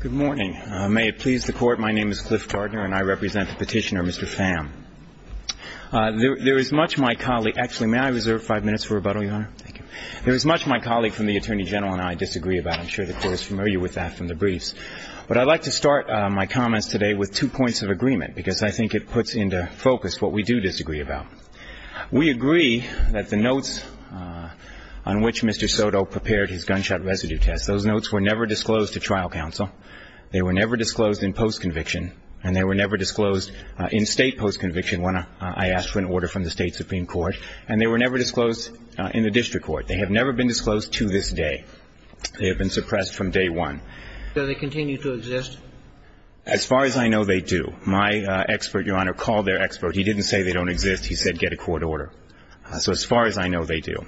Good morning. May it please the Court, my name is Cliff Gardner and I represent the petitioner Mr. Pham. There is much my colleague, actually may I reserve five minutes for rebuttal Your Honor? Thank you. There is much my colleague from the Attorney General and I disagree about, I'm sure the Court is familiar with that from the briefs, but I'd like to start my comments today with two points of agreement because I think it puts into focus what we do disagree about. We agree that the notes on which Mr. Soto prepared his gunshot residue test, those notes were never disclosed to trial counsel, they were never disclosed in post-conviction and they were never disclosed in state post-conviction when I asked for an order from the state Supreme Court and they were never disclosed in the district court. They have never been disclosed to this day. They have been suppressed from day one. Do they continue to exist? As far as I know, they do. My expert, Your Honor, called their expert, he didn't say they don't exist, he said get a court order. So as far as I know, they do.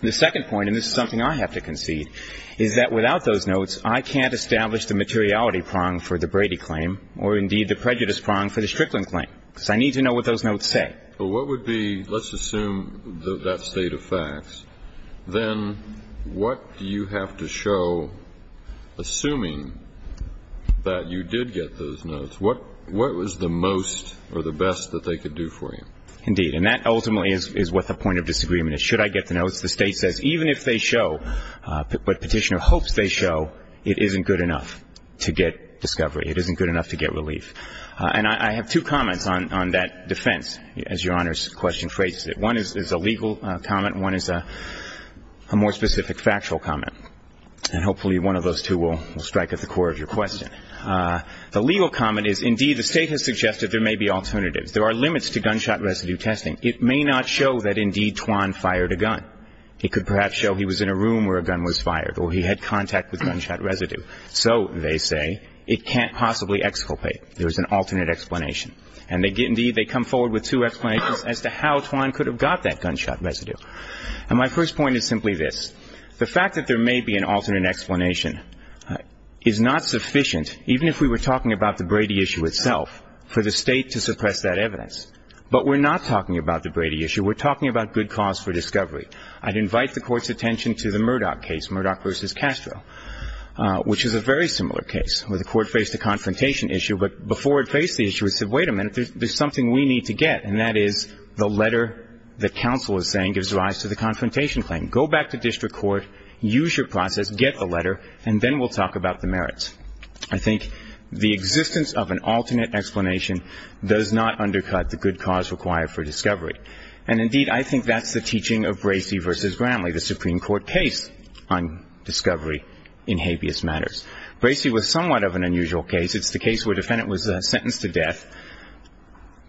The second point, and this is something I have to concede, is that without those notes, I can't establish the materiality prong for the Brady claim or indeed the prejudice prong for the Strickland claim because I need to know what those notes say. But what would be, let's assume that state of facts, then what do you have to show, assuming that you did get those notes, what was the most or the best that they could do for you? Indeed. And that ultimately is what the point of disagreement is. Should I get the notes? The State says even if they show, what Petitioner hopes they show, it isn't good enough to get discovery. It isn't good enough to get relief. And I have two comments on that defense, as Your Honor's question phrases it. One is a legal comment and one is a more specific factual comment. And hopefully one of those two will strike at the core of your question. The legal comment is indeed the State has suggested there may be alternatives. There are limits to gunshot residue testing. It may not show that indeed Twan fired a gun. It could perhaps show he was in a room where a gun was fired or he had contact with gunshot residue. So, they say, it can't possibly exculpate. There is an alternate explanation. And indeed, they come forward with two explanations as to how Twan could have got that gunshot residue. And my first point is simply this. The fact that there may be an alternate explanation is not sufficient, even if we were talking about the Brady issue itself, for the State to suppress that evidence. But we're not talking about the Brady issue. We're talking about good cause for discovery. I'd invite the Court's attention to the Murdoch case, Murdoch v. Castro, which is a very similar case where the Court faced a confrontation issue, but before it faced the issue, it said, wait a minute, there's something we need to get, and that is the letter that counsel is saying gives rise to the confrontation claim. Go back to district court, use your process, get the letter, and then we'll talk about the merits. I think the existence of an alternate explanation does not undercut the good cause required for discovery. And indeed, I think that's the teaching of Bracey v. Bramley, the Supreme Court case on discovery in habeas matters. Bracey was somewhat of an unusual case. It's the case where a defendant was sentenced to death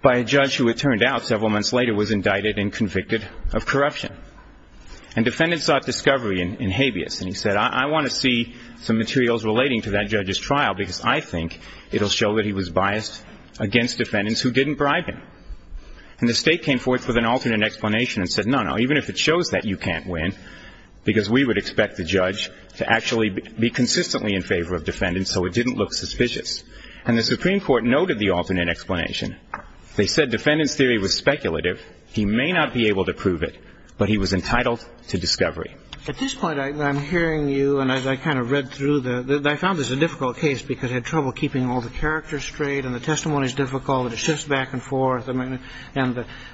by a judge who it turned out several months later was indicted and convicted of corruption. And defendants sought discovery in habeas, and he said, I want to see some materials relating to that judge's trial because I think it'll show that he was biased against defendants who didn't bribe him. And the State came forth with an alternate explanation and said, no, no, even if it shows that you can't win, because we would expect the judge to actually be consistently in favor of defendants so it didn't look suspicious. And the Supreme Court noted the alternate explanation. They said defendant's theory was speculative. He may not be able to prove it, but he was entitled to discovery. At this point, I'm hearing you, and as I kind of read through the – I found this a difficult case because I had trouble keeping all the characters straight and the testimony's difficult and it shifts back and forth, and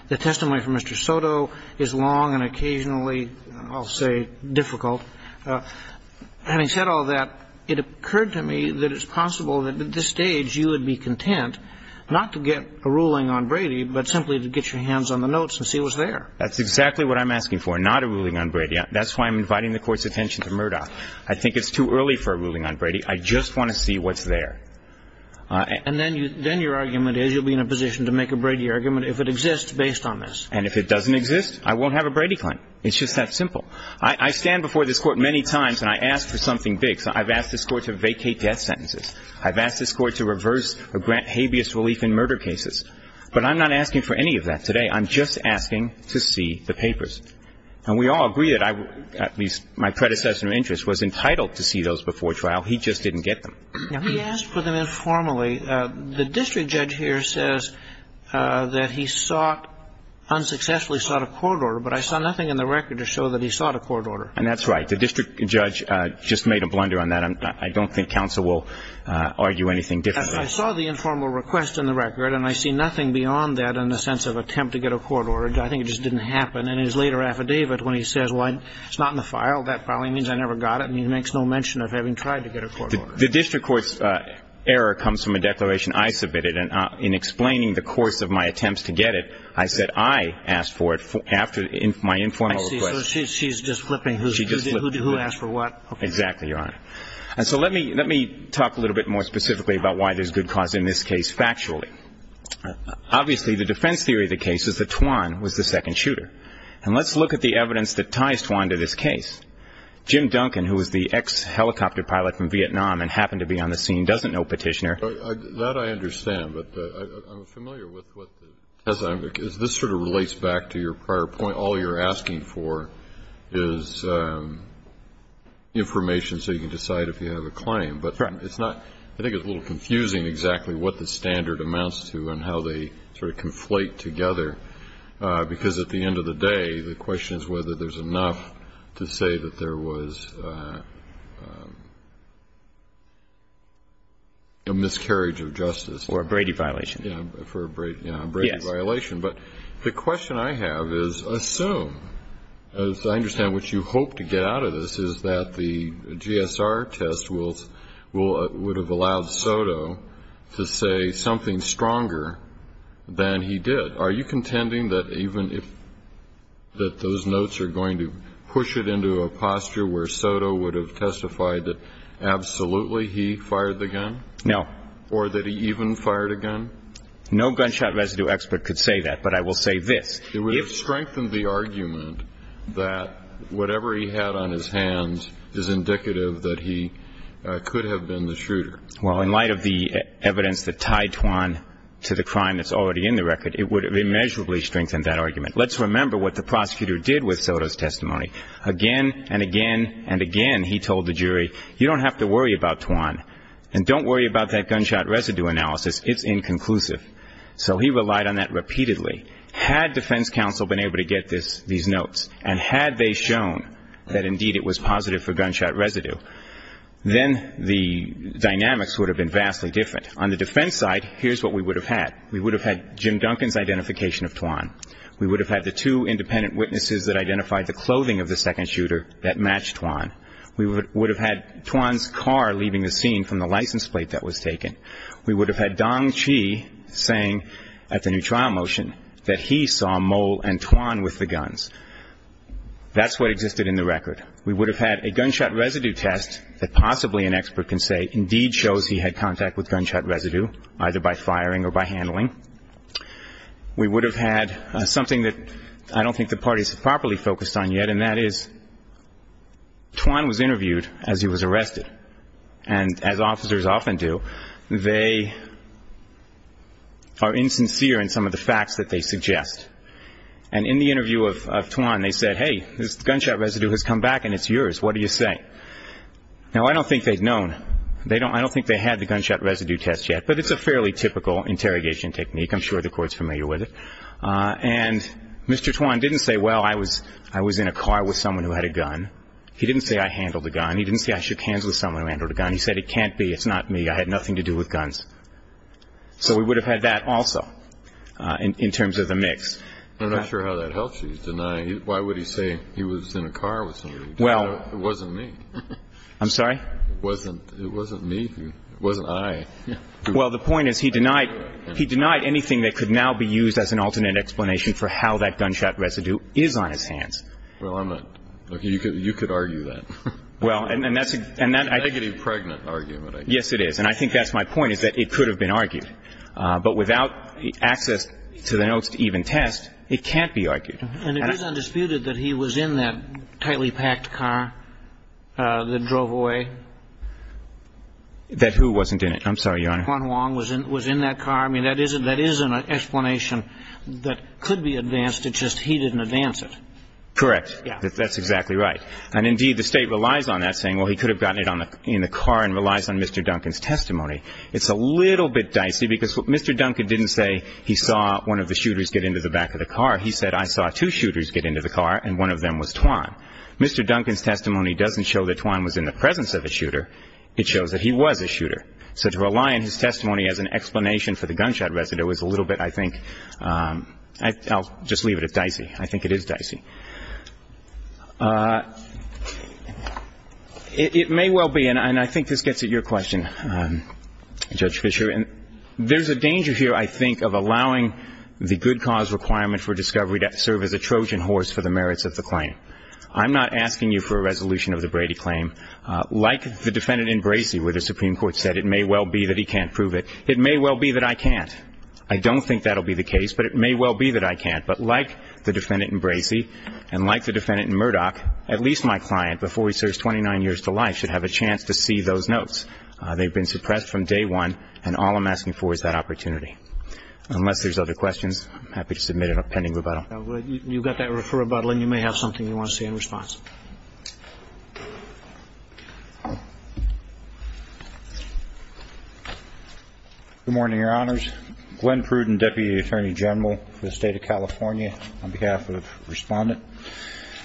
the testimony from Mr. Soto is long and occasionally, I'll say, difficult. Having said all that, it occurred to me that it's possible that at this stage you would be content not to get a ruling on Brady but simply to get your hands on the notes and see what's there. That's exactly what I'm asking for, not a ruling on Brady. That's why I'm inviting the Court's attention to Murdoch. I think it's too early for a ruling on Brady. I just want to see what's there. And then your argument is you'll be in a position to make a Brady argument if it exists based on this. And if it doesn't exist, I won't have a Brady claim. It's just that simple. I stand before this Court many times and I ask for something big. So I've asked this Court to vacate death sentences. I've asked this Court to reverse or grant habeas relief in murder cases. But I'm not asking for any of that today. I'm just asking to see the papers. And we all agree that I, at least my predecessor in interest, was entitled to see those before trial. He just didn't get them. He asked for them informally. The district judge here says that he sought – unsuccessfully sought a court order, but I saw nothing in the record to show that he sought a court order. And that's right. The district judge just made a blunder on that. I don't think counsel will argue anything different. I saw the informal request in the record and I see nothing beyond that in the sense of attempt to get a court order. I think it just didn't happen. And in his later affidavit when he says, well, it's not in the file, that probably means I never got it. And he makes no mention of having tried to get a court order. The district court's error comes from a declaration I submitted. And in explaining the course of my attempts to get it, I said I asked for it after my informal request. So she's just flipping who asked for what? Exactly, Your Honor. And so let me talk a little bit more specifically about why there's good cause in this case factually. Obviously, the defense theory of the case is that Twan was the second shooter. And let's look at the evidence that ties Twan to this case. Jim Duncan, who was the ex-helicopter pilot from Vietnam and happened to be on the scene, doesn't know Petitioner. That I understand, but I'm familiar with what the – this sort of relates back to your prior point. All you're asking for is information so you can decide if you have a claim. Correct. But it's not – I think it's a little confusing exactly what the standard amounts to and how they sort of conflate together. Because at the end of the day, the question is whether there's enough to say that there was a miscarriage of justice. Or a Brady violation. Yeah, for a Brady – yeah, a Brady violation. Yes. But the question I have is assume, as I understand what you hope to get out of this, is that the GSR test will – would have allowed Soto to say something stronger than he did. Are you contending that even if – that those notes are going to push it into a posture where Soto would have testified that absolutely he fired the gun? No. Or that he even fired a gun? No gunshot residue expert could say that. But I will say this. It would have strengthened the argument that whatever he had on his hands is indicative that he could have been the shooter. Well, in light of the evidence that tied Twan to the crime that's already in the record, it would have immeasurably strengthened that argument. Let's remember what the prosecutor did with Soto's testimony. Again and again and again he told the jury, you don't have to worry about Twan and don't worry about that gunshot residue analysis. It's inconclusive. So he relied on that repeatedly. Had defense counsel been able to get this – these notes and had they shown that indeed it was positive for gunshot residue, then the dynamics would have been vastly different. On the defense side, here's what we would have had. We would have had Jim Duncan's identification of Twan. We would have had the two independent witnesses that identified the clothing of the second shooter that matched Twan. We would have had Twan's car leaving the scene from the license plate that was taken. We would have had Dong Chi saying at the new trial motion that he saw Mole and Twan with the guns. That's what existed in the record. We would have had a gunshot residue test that possibly an expert can say indeed shows he had contact with gunshot residue, either by firing or by handling. We would have had something that I don't think the parties have properly focused on yet, and that is, Twan was interviewed as he was arrested. And as officers often do, they are insincere in some of the facts that they suggest. And in the interview of Twan, they said, hey, this gunshot residue has come back and it's yours. What do you say? Now I don't think they'd known. I don't think they had the gunshot residue test yet, but it's a fairly typical interrogation technique. I'm sure the Court's familiar with it. And Mr. Twan didn't say, well, I was in a car with someone who had a gun. He didn't say I handled the gun. He didn't say I shook hands with someone who handled a gun. He said it can't be. It's not me. I had nothing to do with guns. So we would have had that also in terms of the mix. I'm not sure how that helps you, denying. Why would he say he was in a car with somebody who did that? It wasn't me. I'm sorry? It wasn't me. It wasn't I. Well, the point is he denied anything that could now be used as an alternate explanation for how that gunshot residue is on his hands. Well, I'm not. You could argue that. Well, and that's a negative pregnant argument, I guess. Yes, it is. And I think that's my point, is that it could have been argued. But without it. And it is undisputed that he was in that tightly packed car that drove away. That who wasn't in it? I'm sorry, Your Honor. Twan Wong was in that car. I mean, that is an explanation that could be advanced. It's just he didn't advance it. Correct. That's exactly right. And indeed, the state relies on that, saying, well, he could have gotten it in the car and relies on Mr. Duncan's testimony. It's a little bit dicey because Mr. Duncan didn't say he saw one of the shooters get into the back of the car. He said, I saw two shooters get into the car, and one of them was Twan. Mr. Duncan's testimony doesn't show that Twan was in the presence of a shooter. It shows that he was a shooter. So to rely on his testimony as an explanation for the gunshot residue is a little bit, I think, I'll just leave it at dicey. I think it is dicey. It may well be, and I think this gets at your question, Judge Fischer, and there's a danger here, I think, of allowing the good cause requirement for discovery to serve as a Trojan horse for the merits of the claim. I'm not asking you for a resolution of the Brady claim. Like the defendant in Bracey, where the Supreme Court said it may well be that he can't prove it, it may well be that I can't. I don't think that'll be the case, but it may well be that I can't. But like the defendant in Bracey and like the defendant in Murdoch, at least my client, before he serves 29 years to life, should have a chance to see those notes. They've been suppressed from day one, and all I'm asking for is that opportunity. Unless there's other questions, I'm happy to submit an appending rebuttal. You've got that referral rebuttal, and you may have something you want to say in response. Good morning, Your Honors. Glenn Pruden, Deputy Attorney General for the State of California, on behalf of Respondent.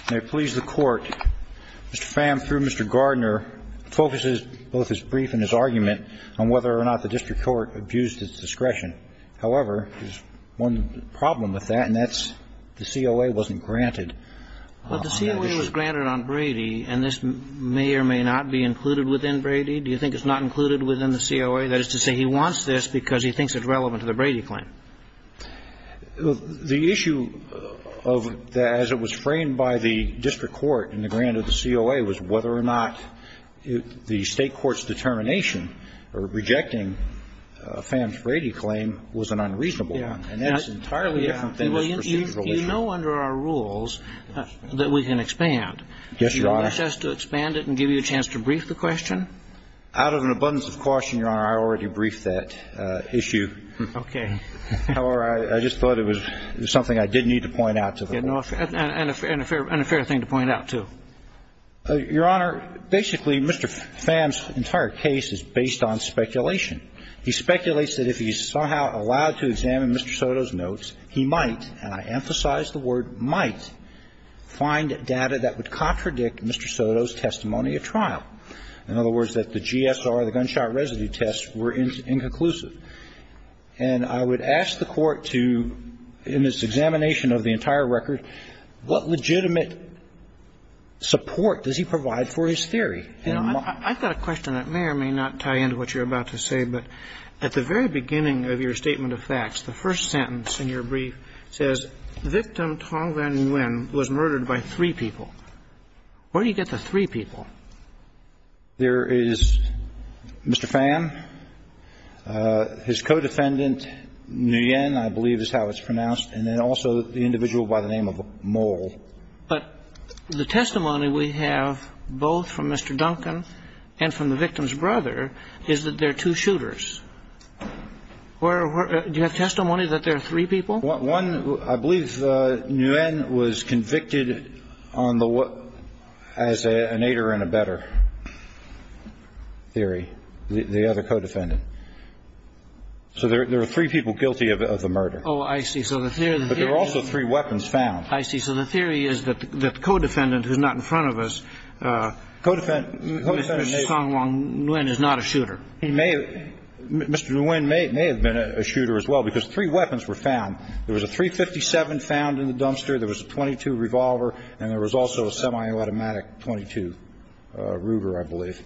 May it please the Court, Mr. Pham, through Mr. Gardner, focuses both his brief and his argument on whether or not the district court abused its discretion. However, there's one problem with that, and that's the COA wasn't granted on that issue. But the COA was granted on Brady, and this may or may not be included within Brady. Do you think it's not included within the COA? That is to say, he wants this because he thinks it's relevant to the Brady claim. The issue of that, as it was framed by the district court in the grant of the COA, was whether or not the state court's determination for rejecting Pham's Brady claim was an unreasonable one. And that's entirely different than this procedural issue. You know under our rules that we can expand. Yes, Your Honor. Do you want us to expand it and give you a chance to brief the question? Out of an abundance of caution, Your Honor, I already briefed that issue. Okay. However, I just thought it was something I did need to point out to the Court. And a fair thing to point out, too. Your Honor, basically, Mr. Pham's entire case is based on speculation. He speculates that if he's somehow allowed to examine Mr. Soto's notes, he might – and I emphasize the word might – find data that would contradict Mr. Soto's testimony at trial. In other words, that the GSR, the gunshot residue test, were inconclusive. And I would ask the Court to, in its examination of the entire record, what legitimate support does he provide for his theory? You know, I've got a question that may or may not tie into what you're about to say. But at the very beginning of your statement of facts, the first sentence in your brief says, Victim Tong Van Nguyen was murdered by three people. Where do you get the three people? There is Mr. Pham, his co-defendant, Nguyen, I believe is how it's pronounced. And then also the individual by the name of Mole. But the testimony we have, both from Mr. Duncan and from the victim's brother, is that there are two shooters. Do you have testimony that there are three people? One – I believe Nguyen was convicted on the – as an aider and abetter theory, the other co-defendant. So there are three people guilty of the murder. Oh, I see. So the theory – But there are also three weapons found. I see. So the theory is that the co-defendant, who's not in front of us, Mr. Tong Van Nguyen is not a shooter. He may – Mr. Nguyen may have been a shooter as well, because three weapons were found. There was a .357 found in the dumpster, there was a .22 revolver, and there was also a semi-automatic .22 Ruger, I believe.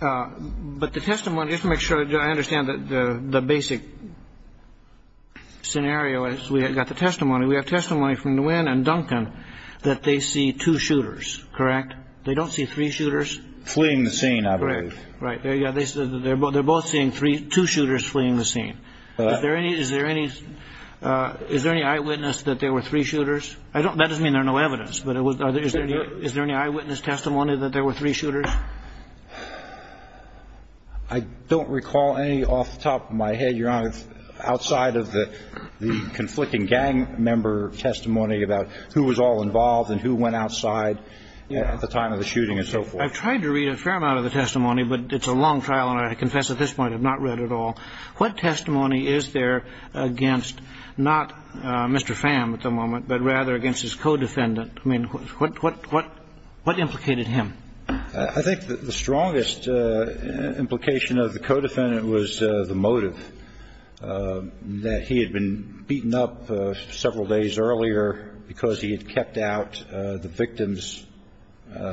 But the testimony – just to make sure I understand the basic scenario as we got the gun done, that they see two shooters, correct? They don't see three shooters? Fleeing the scene, I believe. Correct. Right. There you go. They're both seeing three – two shooters fleeing the scene. Is there any – is there any – is there any eyewitness that there were three shooters? I don't – that doesn't mean there's no evidence, but is there any eyewitness testimony that there were three shooters? I don't recall any off the top of my head, Your Honor, outside of the conflicting gang member testimony about who was all involved and who went outside at the time of the shooting and so forth. I've tried to read a fair amount of the testimony, but it's a long trial and I confess at this point I've not read it all. What testimony is there against not Mr. Pham at the moment, but rather against his co-defendant? I mean, what – what – what – what implicated him? I think the strongest implication of the co-defendant was the motive, that he had been beaten up several days earlier because he had kept out the victim's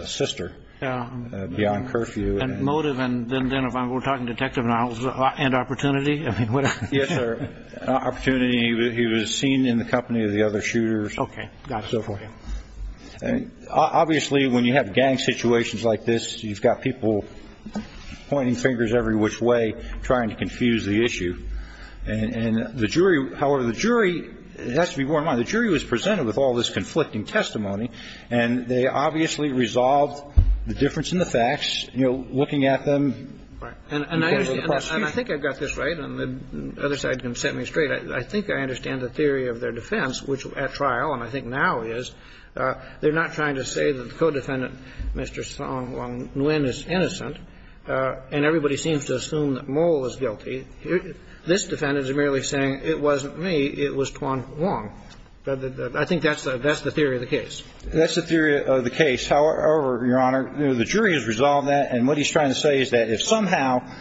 sister beyond curfew. And motive, and then if I'm talking detective and I was – and opportunity? I mean, what – Yes, sir. Opportunity, he was seen in the company of the other shooters and so forth. Okay, got it. Obviously, when you have gang situations like this, you've got people pointing fingers every which way trying to confuse the issue. And the jury – however, the jury, it has to be borne in mind, the jury was presented with all this conflicting testimony, and they obviously resolved the difference in the facts, you know, looking at them. Right. And I understand – and I think I got this right, and the other side can set me straight. I think I understand the theory of their defense, which at trial, and I think now is, they're not trying to say that the co-defendant, Mr. Song Wong Nguyen, is innocent and everybody seems to assume that Mole is guilty. This defendant is merely saying, it wasn't me, it was Tuan Wong. I think that's the theory of the case. That's the theory of the case. However, Your Honor, the jury has resolved that, and what he's trying to say is that if somehow –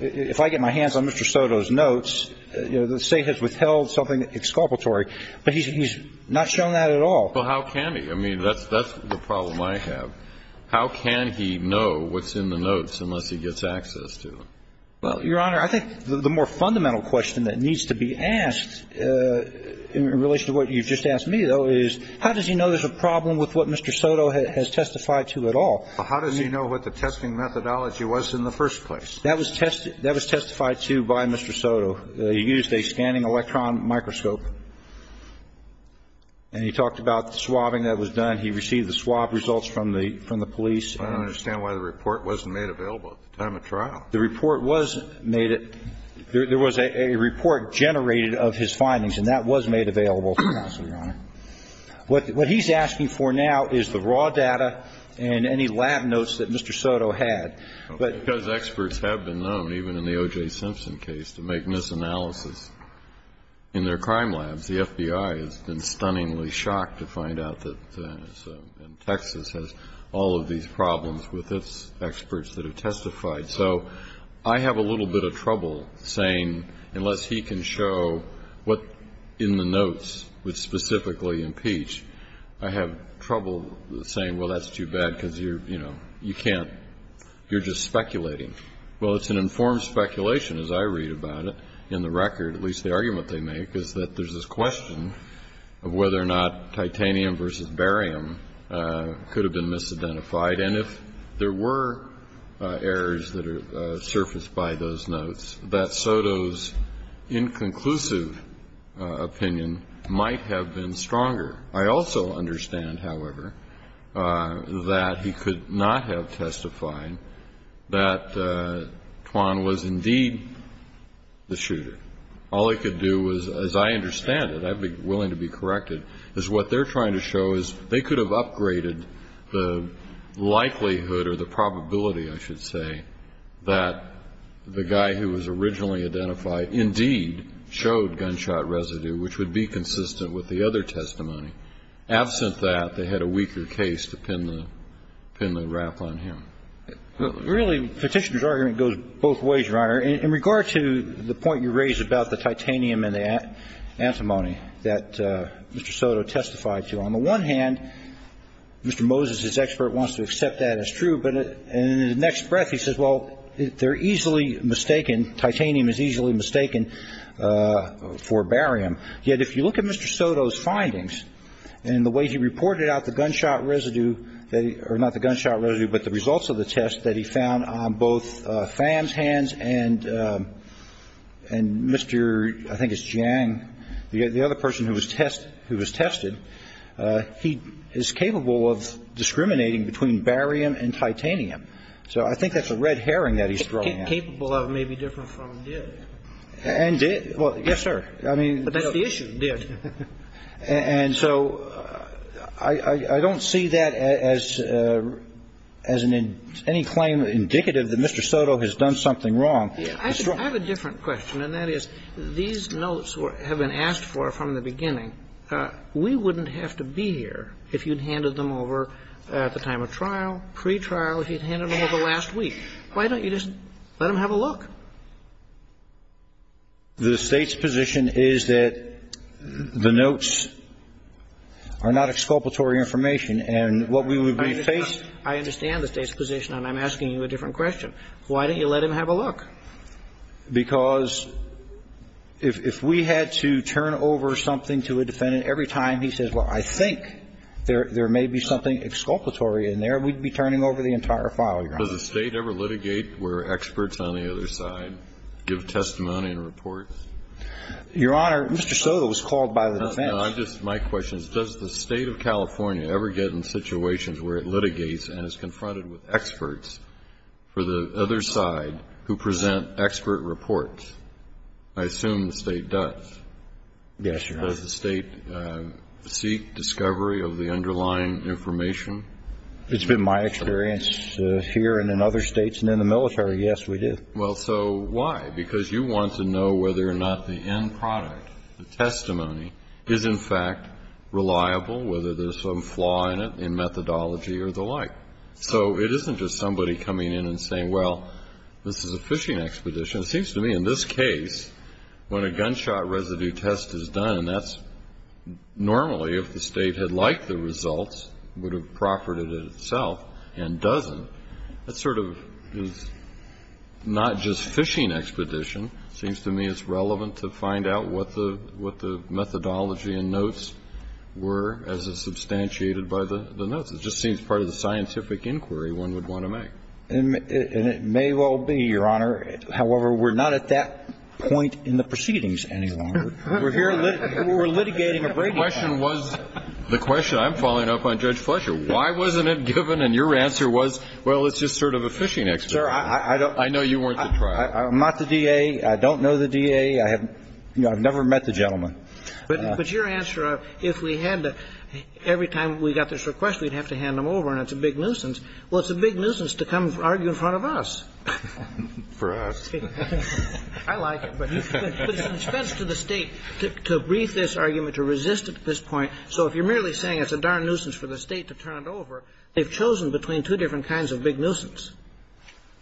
if I get my hands on Mr. Soto's notes, you know, the State has withheld something exculpatory, but he's not shown that at all. Well, how can he? I mean, that's the problem I have. How can he know what's in the notes unless he gets access to them? Well, Your Honor, I think the more fundamental question that needs to be asked in relation to what you've just asked me, though, is how does he know there's a problem with what Mr. Soto has testified to at all? How does he know what the testing methodology was in the first place? That was test – that was testified to by Mr. Soto. He used a scanning electron microscope, and he talked about the swabbing that was done. He received the swabbed results from the – from the police. I don't understand why the report wasn't made available at the time of trial. The report was made at – there was a report generated of his findings, and that was made available to the House, Your Honor. What he's asking for now is the raw data and any lab notes that Mr. Soto had. Because experts have been known, even in the O.J. Simpson case, to make misanalysis in their crime labs. The FBI has been stunningly shocked to find out that – and Texas has all of these problems with its experts that have testified. So I have a little bit of trouble saying, unless he can show what in the notes would specifically impeach, I have trouble saying, well, that's too bad, because you're – you know, you can't – you're just speculating. Well, it's an informed speculation, as I read about it, in the record. At least the argument they make is that there's this question of whether or not titanium versus barium could have been misidentified. And if there were errors that surfaced by those notes, that Soto's inconclusive opinion might have been stronger. I also understand, however, that he could not have testified that Twan was indeed the shooter. All he could do was – as I understand it, I'd be willing to be corrected – is what the likelihood or the probability, I should say, that the guy who was originally identified indeed showed gunshot residue, which would be consistent with the other testimony. Absent that, they had a weaker case to pin the – pin the rap on him. Well, really, Petitioner's argument goes both ways, Your Honor. In regard to the point you raise about the titanium and the antimony that Mr. Soto testified to, on the one hand, Mr. Moses, his expert, wants to accept that as true, but in the next breath he says, well, they're easily mistaken – titanium is easily mistaken for barium. Yet if you look at Mr. Soto's findings, and the way he reported out the gunshot residue that – or not the gunshot residue, but the results of the test that he found on both Pham's hands and Mr. – I think it's Jiang, the other person who was tested. He is capable of discriminating between barium and titanium. So I think that's a red herring that he's throwing out. Capable of may be different from did. And did – well, yes, sir. I mean – But that's the issue, did. And so I don't see that as – as any claim indicative that Mr. Soto has done something wrong. I have a different question, and that is, these notes have been asked for from the beginning. We wouldn't have to be here if you'd handed them over at the time of trial, pretrial, if you'd handed them over last week. Why don't you just let them have a look? The State's position is that the notes are not exculpatory information, and what we would be faced – I understand the State's position, and I'm asking you a different question. Why don't you let them have a look? Because if we had to turn over something to a defendant every time he says, well, I think there may be something exculpatory in there, we'd be turning over the entire file, Your Honor. Does the State ever litigate where experts on the other side give testimony and report? Your Honor, Mr. Soto was called by the defense. No, no, I'm just – my question is, does the State of California ever get in situations where it litigates and is confronted with experts for the other side who present expert reports? I assume the State does. Yes, Your Honor. Does the State seek discovery of the underlying information? It's been my experience here and in other states and in the military, yes, we do. Well, so why? Because you want to know whether or not the end product, the testimony, is in fact reliable, whether there's some flaw in it in methodology or the like. So it isn't just somebody coming in and saying, well, this is a fishing expedition. It seems to me in this case, when a gunshot residue test is done, that's normally if the State had liked the results, would have proffered it itself and doesn't. That sort of is not just fishing expedition. It seems to me it's relevant to find out what the methodology and notes were as is substantiated by the notes. It just seems part of the scientific inquiry one would want to make. And it may well be, Your Honor. However, we're not at that point in the proceedings any longer. We're here litigating a breaking point. The question was, the question, I'm following up on Judge Fletcher. Why wasn't it given? And your answer was, well, it's just sort of a fishing expedition. I know you weren't the trial. I'm not the DA. I don't know the DA. I have never met the gentleman. But your answer, if we had to, every time we got this request, we'd have to hand them over and it's a big nuisance. Well, it's a big nuisance to come argue in front of us. For us. I like it. But it's best to the State to brief this argument, to resist it at this point. So if you're merely saying it's a darn nuisance for the State to turn it over, they've chosen between two different kinds of big nuisance.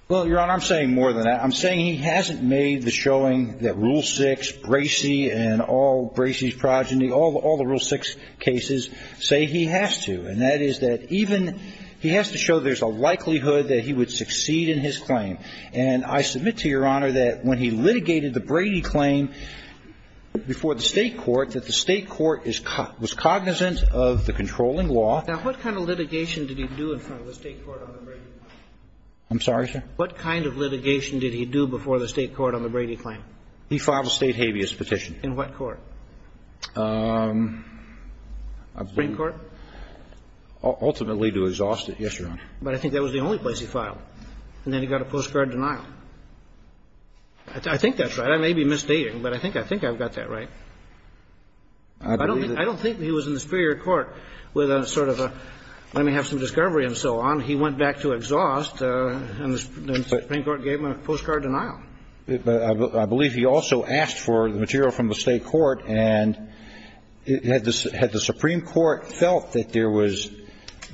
Well, Your Honor, I'm saying more than that. I'm saying he hasn't made the showing that Rule 6, Bracey and all Bracey's progeny, all the Rule 6 cases, say he has to. And that is that even he has to show there's a likelihood that he would succeed in his claim. And I submit to Your Honor that when he litigated the Brady claim before the State court, that the State court was cognizant of the controlling law. Now, what kind of litigation did he do in front of the State court on the Brady case? I'm sorry, sir? What kind of litigation did he do before the State court on the Brady claim? He filed a State habeas petition. In what court? Supreme Court? Ultimately to exhaust it, yes, Your Honor. But I think that was the only place he filed. And then he got a postcard denial. I think that's right. I may be misstating, but I think I've got that right. I don't think he was in the superior court with a sort of a, let me have some discovery and so on. He went back to exhaust, and the Supreme Court gave him a postcard denial. I believe he also asked for the material from the State court, and had the Supreme Court felt that there was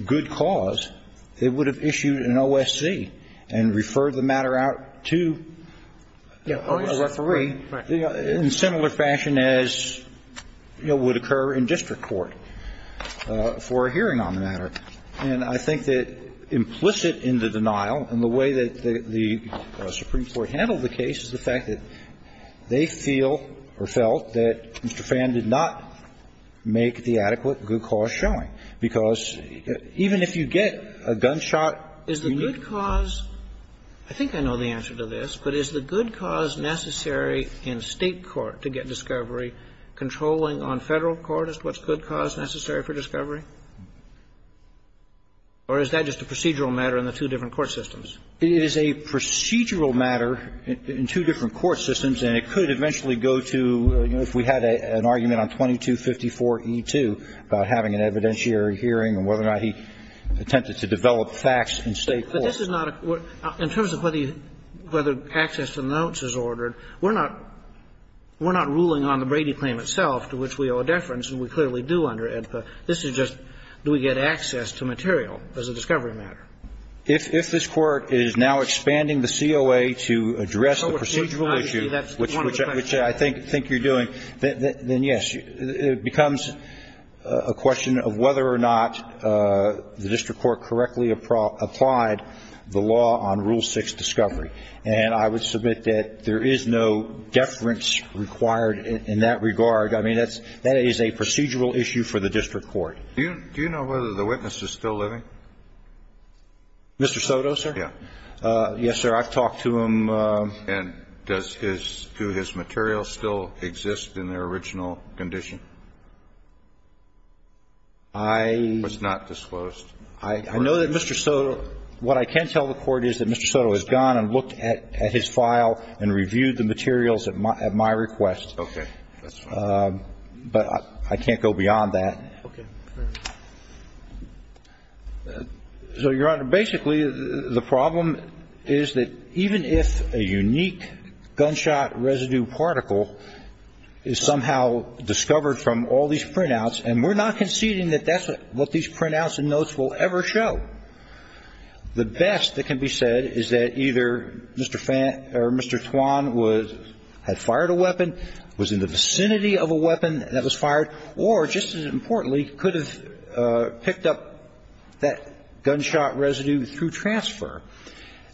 good cause, it would have issued an OSC and referred the matter out to the referee in similar fashion as, you know, would occur in district court for a hearing on the matter. And I think that implicit in the denial and the way that the Supreme Court handled the case is the fact that they feel or felt that Mr. Phan did not make the adequate good cause showing, because even if you get a gunshot, you need to know the good cause. I think I know the answer to this, but is the good cause necessary in State court to get discovery? Controlling on Federal court is what's good cause necessary for discovery? Or is that just a procedural matter in the two different court systems? It is a procedural matter in two different court systems, and it could eventually go to, you know, if we had an argument on 2254E2 about having an evidentiary hearing and whether or not he attempted to develop facts in State court. But this is not a question of whether access to the notes is ordered. We're not ruling on the Brady claim itself, to which we owe a deference, and we clearly do under AEDPA. This is just, do we get access to material as a discovery matter? If this Court is now expanding the COA to address the procedural issue, which I think you're doing, then yes. It becomes a question of whether or not the district court correctly applied the law on Rule 6 discovery. And I would submit that there is no deference required in that regard. I mean, that's – that is a procedural issue for the district court. Do you know whether the witness is still living? Mr. Soto, sir? Yes, sir. I've talked to him. And does his – do his materials still exist in their original condition? I… Was not disclosed. I know that Mr. Soto – what I can tell the Court is that Mr. Soto has gone and looked at his file and reviewed the materials at my request. Okay. But I can't go beyond that. Okay. Fair enough. So, Your Honor, basically, the problem is that even if a unique gunshot residue particle is somehow discovered from all these printouts, and we're not conceding that that's what these printouts and notes will ever show, the best that can be said is that either Mr. Fan – or Mr. Twan was – had fired a weapon, was in the vicinity of a weapon that was fired, or, just as importantly, could have picked up that gunshot residue through transfer.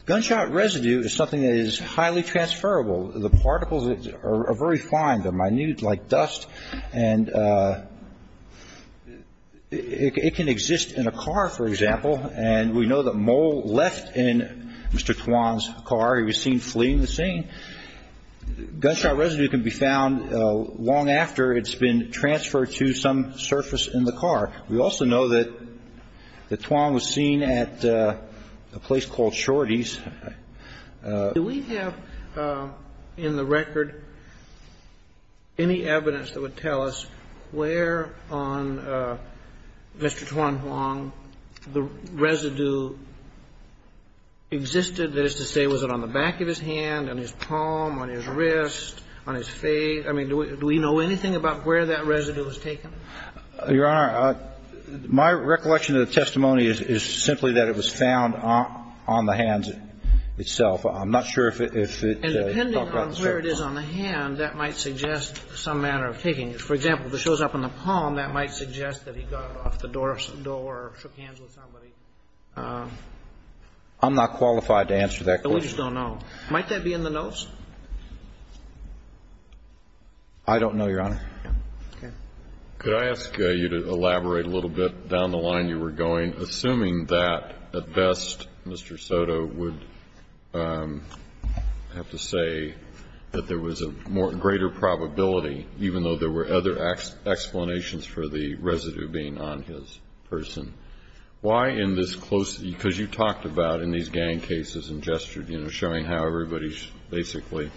Gunshot residue is something that is highly transferable. The particles are very fine. They're minute like dust. And it can exist in a car, for example. And we know that Moe left in Mr. Twan's car. He was seen fleeing the scene. Gunshot residue can be found long after it's been transferred to some surface in the car. We also know that Twan was seen at a place called Shorty's. Do we have in the record any evidence that would tell us where on Mr. Twan Huang the residue existed? That is to say, was it on the back of his hand, on his palm, on his wrist, on his face? I mean, do we know anything about where that residue was taken? Your Honor, my recollection of the testimony is simply that it was found on the hands itself. I'm not sure if it's been found on the surface. And depending on where it is on the hand, that might suggest some manner of taking it. For example, if it shows up on the palm, that might suggest that he got it off the door or shook hands with somebody. I'm not qualified to answer that question. We just don't know. Might that be in the notes? I don't know, Your Honor. Okay. Could I ask you to elaborate a little bit down the line you were going, assuming that, at best, Mr. Soto would have to say that there was a greater probability, even though there were other explanations for the residue being on his person. Why in this close, because you talked about in these gang cases and gestured, you know, showing how everybody's basically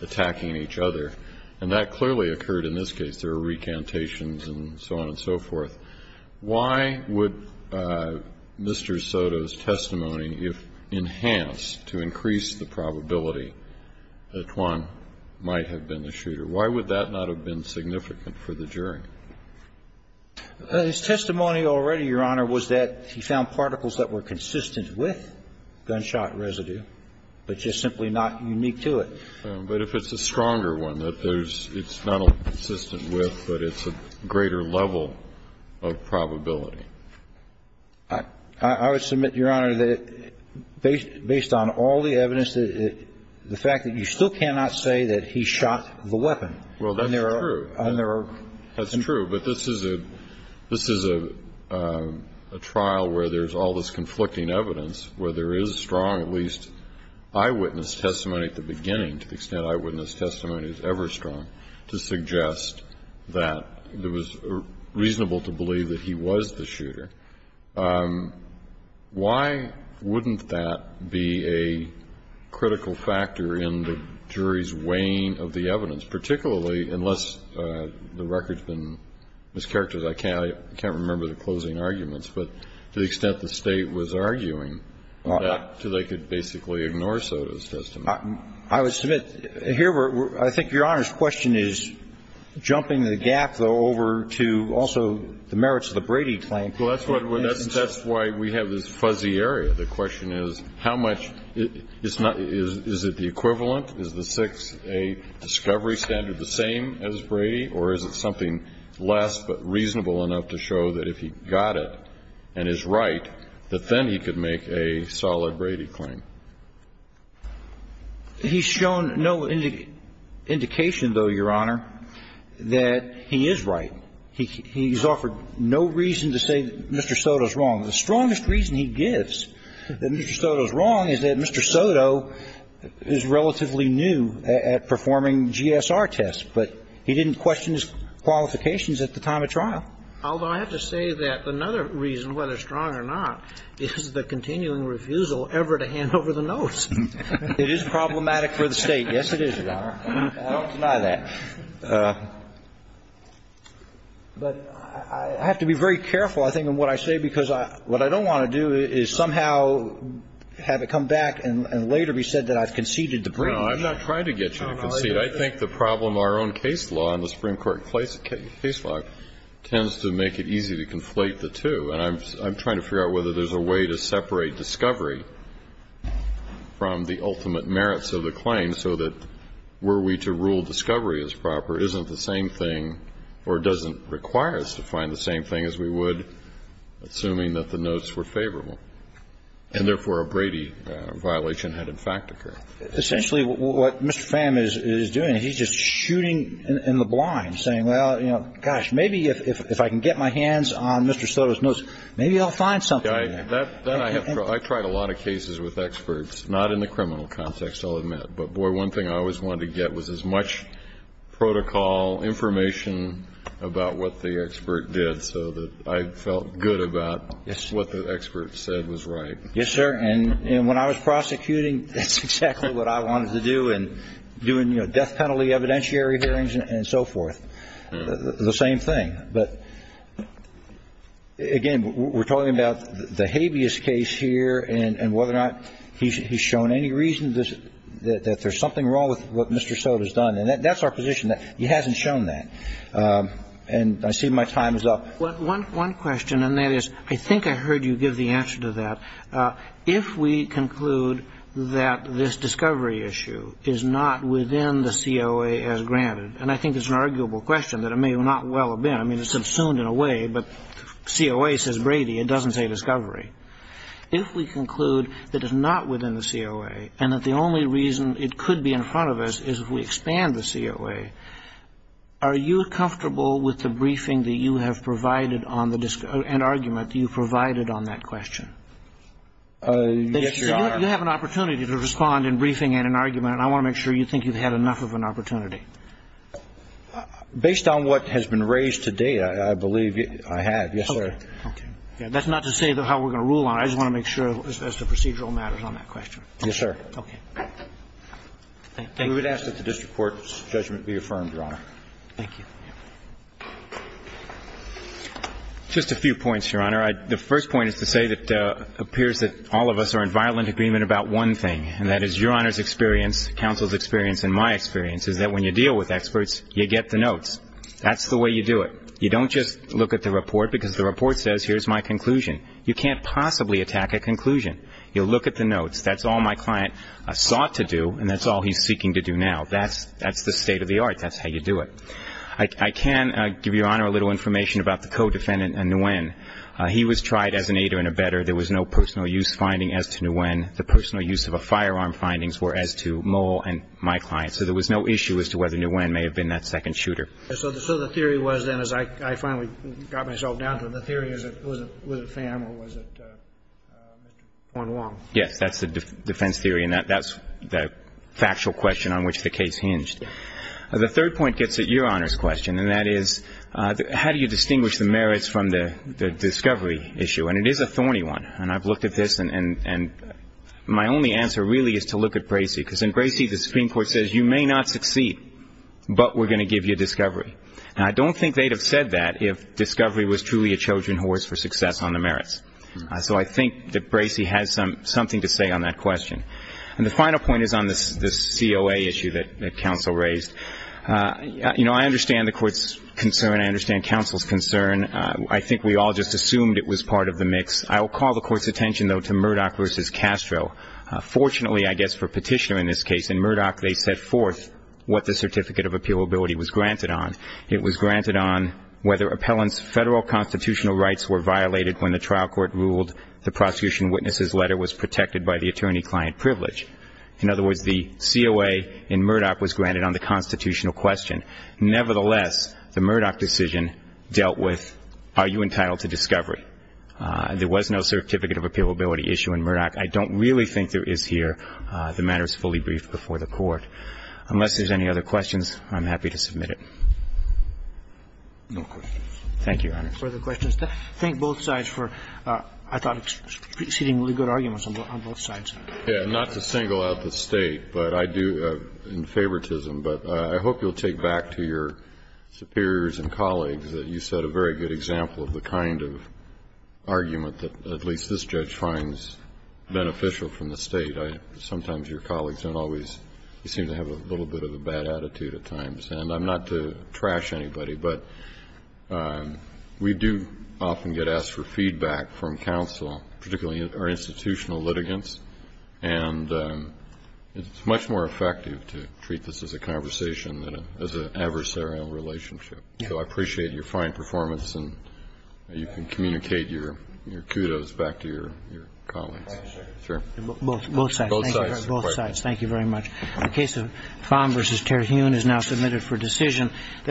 attacking each other. And that clearly occurred in this case. There were recantations and so on and so forth. Why would Mr. Soto's testimony, if enhanced to increase the probability, that Juan might have been the shooter? Why would that not have been significant for the jury? His testimony already, Your Honor, was that he found particles that were consistent with gunshot residue, but just simply not unique to it. But if it's a stronger one that there's not consistent with, but it's a greater level of probability. I would submit, Your Honor, that based on all the evidence, the fact that you still cannot say that he shot the weapon. Well, that's true. And there are. That's true. But this is a trial where there's all this conflicting evidence, where there is strong, at least, eyewitness testimony at the beginning, to the extent eyewitness testimony is ever strong, to suggest that it was reasonable to believe that he was the shooter. Why wouldn't that be a critical factor in the jury's weighing of the evidence, particularly unless the record's been mischaracterized? I can't remember the closing arguments, but to the extent the State was arguing that, they could basically ignore Soto's testimony. I would submit, here, I think Your Honor's question is jumping the gap, though, over to also the merits of the Brady claim. Well, that's why we have this fuzzy area. The question is, how much is not the equivalent? Is the 6A discovery standard the same as Brady, or is it something less, but reasonable enough to show that if he got it and is right, that then he could make a solid Brady claim? He's shown no indication, though, Your Honor, that he is right. He's offered no reason to say that Mr. Soto's wrong. The strongest reason he gives that Mr. Soto's wrong is that Mr. Soto is relatively new at performing GSR tests, but he didn't question his qualifications at the time of trial. Although, I have to say that another reason, whether strong or not, is the continuing refusal ever to hand over the notes. It is problematic for the State. Yes, it is, Your Honor. I don't deny that. But I have to be very careful, I think, in what I say, because what I don't want to do is somehow have it come back and later be said that I've conceded the Brady claim. No, I'm not trying to get you to concede. I think the problem, our own case law and the Supreme Court case law tends to make it easy to conflate the two. And I'm trying to figure out whether there's a way to separate discovery from the fact that Mr. Soto's notes were favorable, and therefore, a Brady violation had in fact occurred. Essentially, what Mr. Pham is doing, he's just shooting in the blind, saying, well, you know, gosh, maybe if I can get my hands on Mr. Soto's notes, maybe I'll find something. Then I have tried a lot of cases with experts, not in the criminal context, I'll admit. Protocol, information about what the expert did so that I felt good about what the expert said was right. Yes, sir. And when I was prosecuting, that's exactly what I wanted to do. And doing, you know, death penalty evidentiary hearings and so forth, the same thing. But again, we're talking about the habeas case here and whether or not he's shown any reason that there's something wrong with what Mr. Soto's done. And that's our position, that he hasn't shown that. And I see my time is up. One question, and that is, I think I heard you give the answer to that. If we conclude that this discovery issue is not within the COA as granted, and I think it's an arguable question, that it may not well have been. I mean, it's subsumed in a way, but COA says Brady, it doesn't say discovery. If we conclude that it's not within the COA and that the only reason it could be in the COA, are you comfortable with the briefing that you have provided on the discovery and argument that you provided on that question? Yes, Your Honor. You have an opportunity to respond in briefing and in argument, and I want to make sure you think you've had enough of an opportunity. Based on what has been raised to date, I believe I have. Yes, sir. Okay. That's not to say how we're going to rule on it. I just want to make sure as to procedural matters on that question. Yes, sir. Okay. Thank you. We would ask that the district court's judgment be affirmed, Your Honor. Thank you. Just a few points, Your Honor. The first point is to say that it appears that all of us are in violent agreement about one thing, and that is Your Honor's experience, counsel's experience, and my experience is that when you deal with experts, you get the notes. That's the way you do it. You don't just look at the report because the report says here's my conclusion. You can't possibly attack a conclusion. You'll look at the notes. That's all my client sought to do, and that's all he's seeking to do now. That's the state of the art. That's how you do it. I can give Your Honor a little information about the co-defendant, Nguyen. He was tried as an aider and abetter. There was no personal use finding as to Nguyen. The personal use of a firearm findings were as to Mole and my client. So there was no issue as to whether Nguyen may have been that second shooter. So the theory was then, as I finally got myself down to it, the theory was it Pham or was it Wong Wong? Yes, that's the defense theory, and that's the factual question on which the case hinged. The third point gets at Your Honor's question, and that is how do you distinguish the merits from the discovery issue? And it is a thorny one, and I've looked at this, and my only answer really is to look at Bracey. Because in Bracey, the Supreme Court says you may not succeed, but we're going to give you a discovery. And I don't think they'd have said that if discovery was truly a children's horse for success on the merits. So I think that Bracey has something to say on that question. And the final point is on the COA issue that counsel raised. You know, I understand the court's concern. I understand counsel's concern. I think we all just assumed it was part of the mix. I will call the court's attention, though, to Murdoch versus Castro. Fortunately, I guess for Petitioner in this case, in Murdoch they set forth what the certificate of appealability was granted on. It was granted on whether appellant's federal constitutional rights were violated when the trial court ruled the prosecution witness's letter was protected by the attorney-client privilege. In other words, the COA in Murdoch was granted on the constitutional question. Nevertheless, the Murdoch decision dealt with, are you entitled to discovery? There was no certificate of appealability issue in Murdoch. I don't really think there is here. The matter is fully briefed before the court. Unless there's any other questions, I'm happy to submit it. No questions. Thank you, Your Honor. Further questions? Thank both sides for, I thought, exceedingly good arguments on both sides. Yes. Not to single out the State, but I do, in favoritism, but I hope you'll take back to your superiors and colleagues that you set a very good example of the kind of argument that at least this judge finds beneficial from the State. Sometimes your colleagues don't always seem to have a little bit of a bad attitude at times. And I'm not to trash anybody, but we do often get asked for feedback from counsel, particularly our institutional litigants, and it's much more effective to treat this as a conversation than as an adversarial relationship. So I appreciate your fine performance, and you can communicate your kudos back to your colleagues. Both sides. Both sides. Thank you very much. The case of Fahn v. Terhune is now submitted for decision.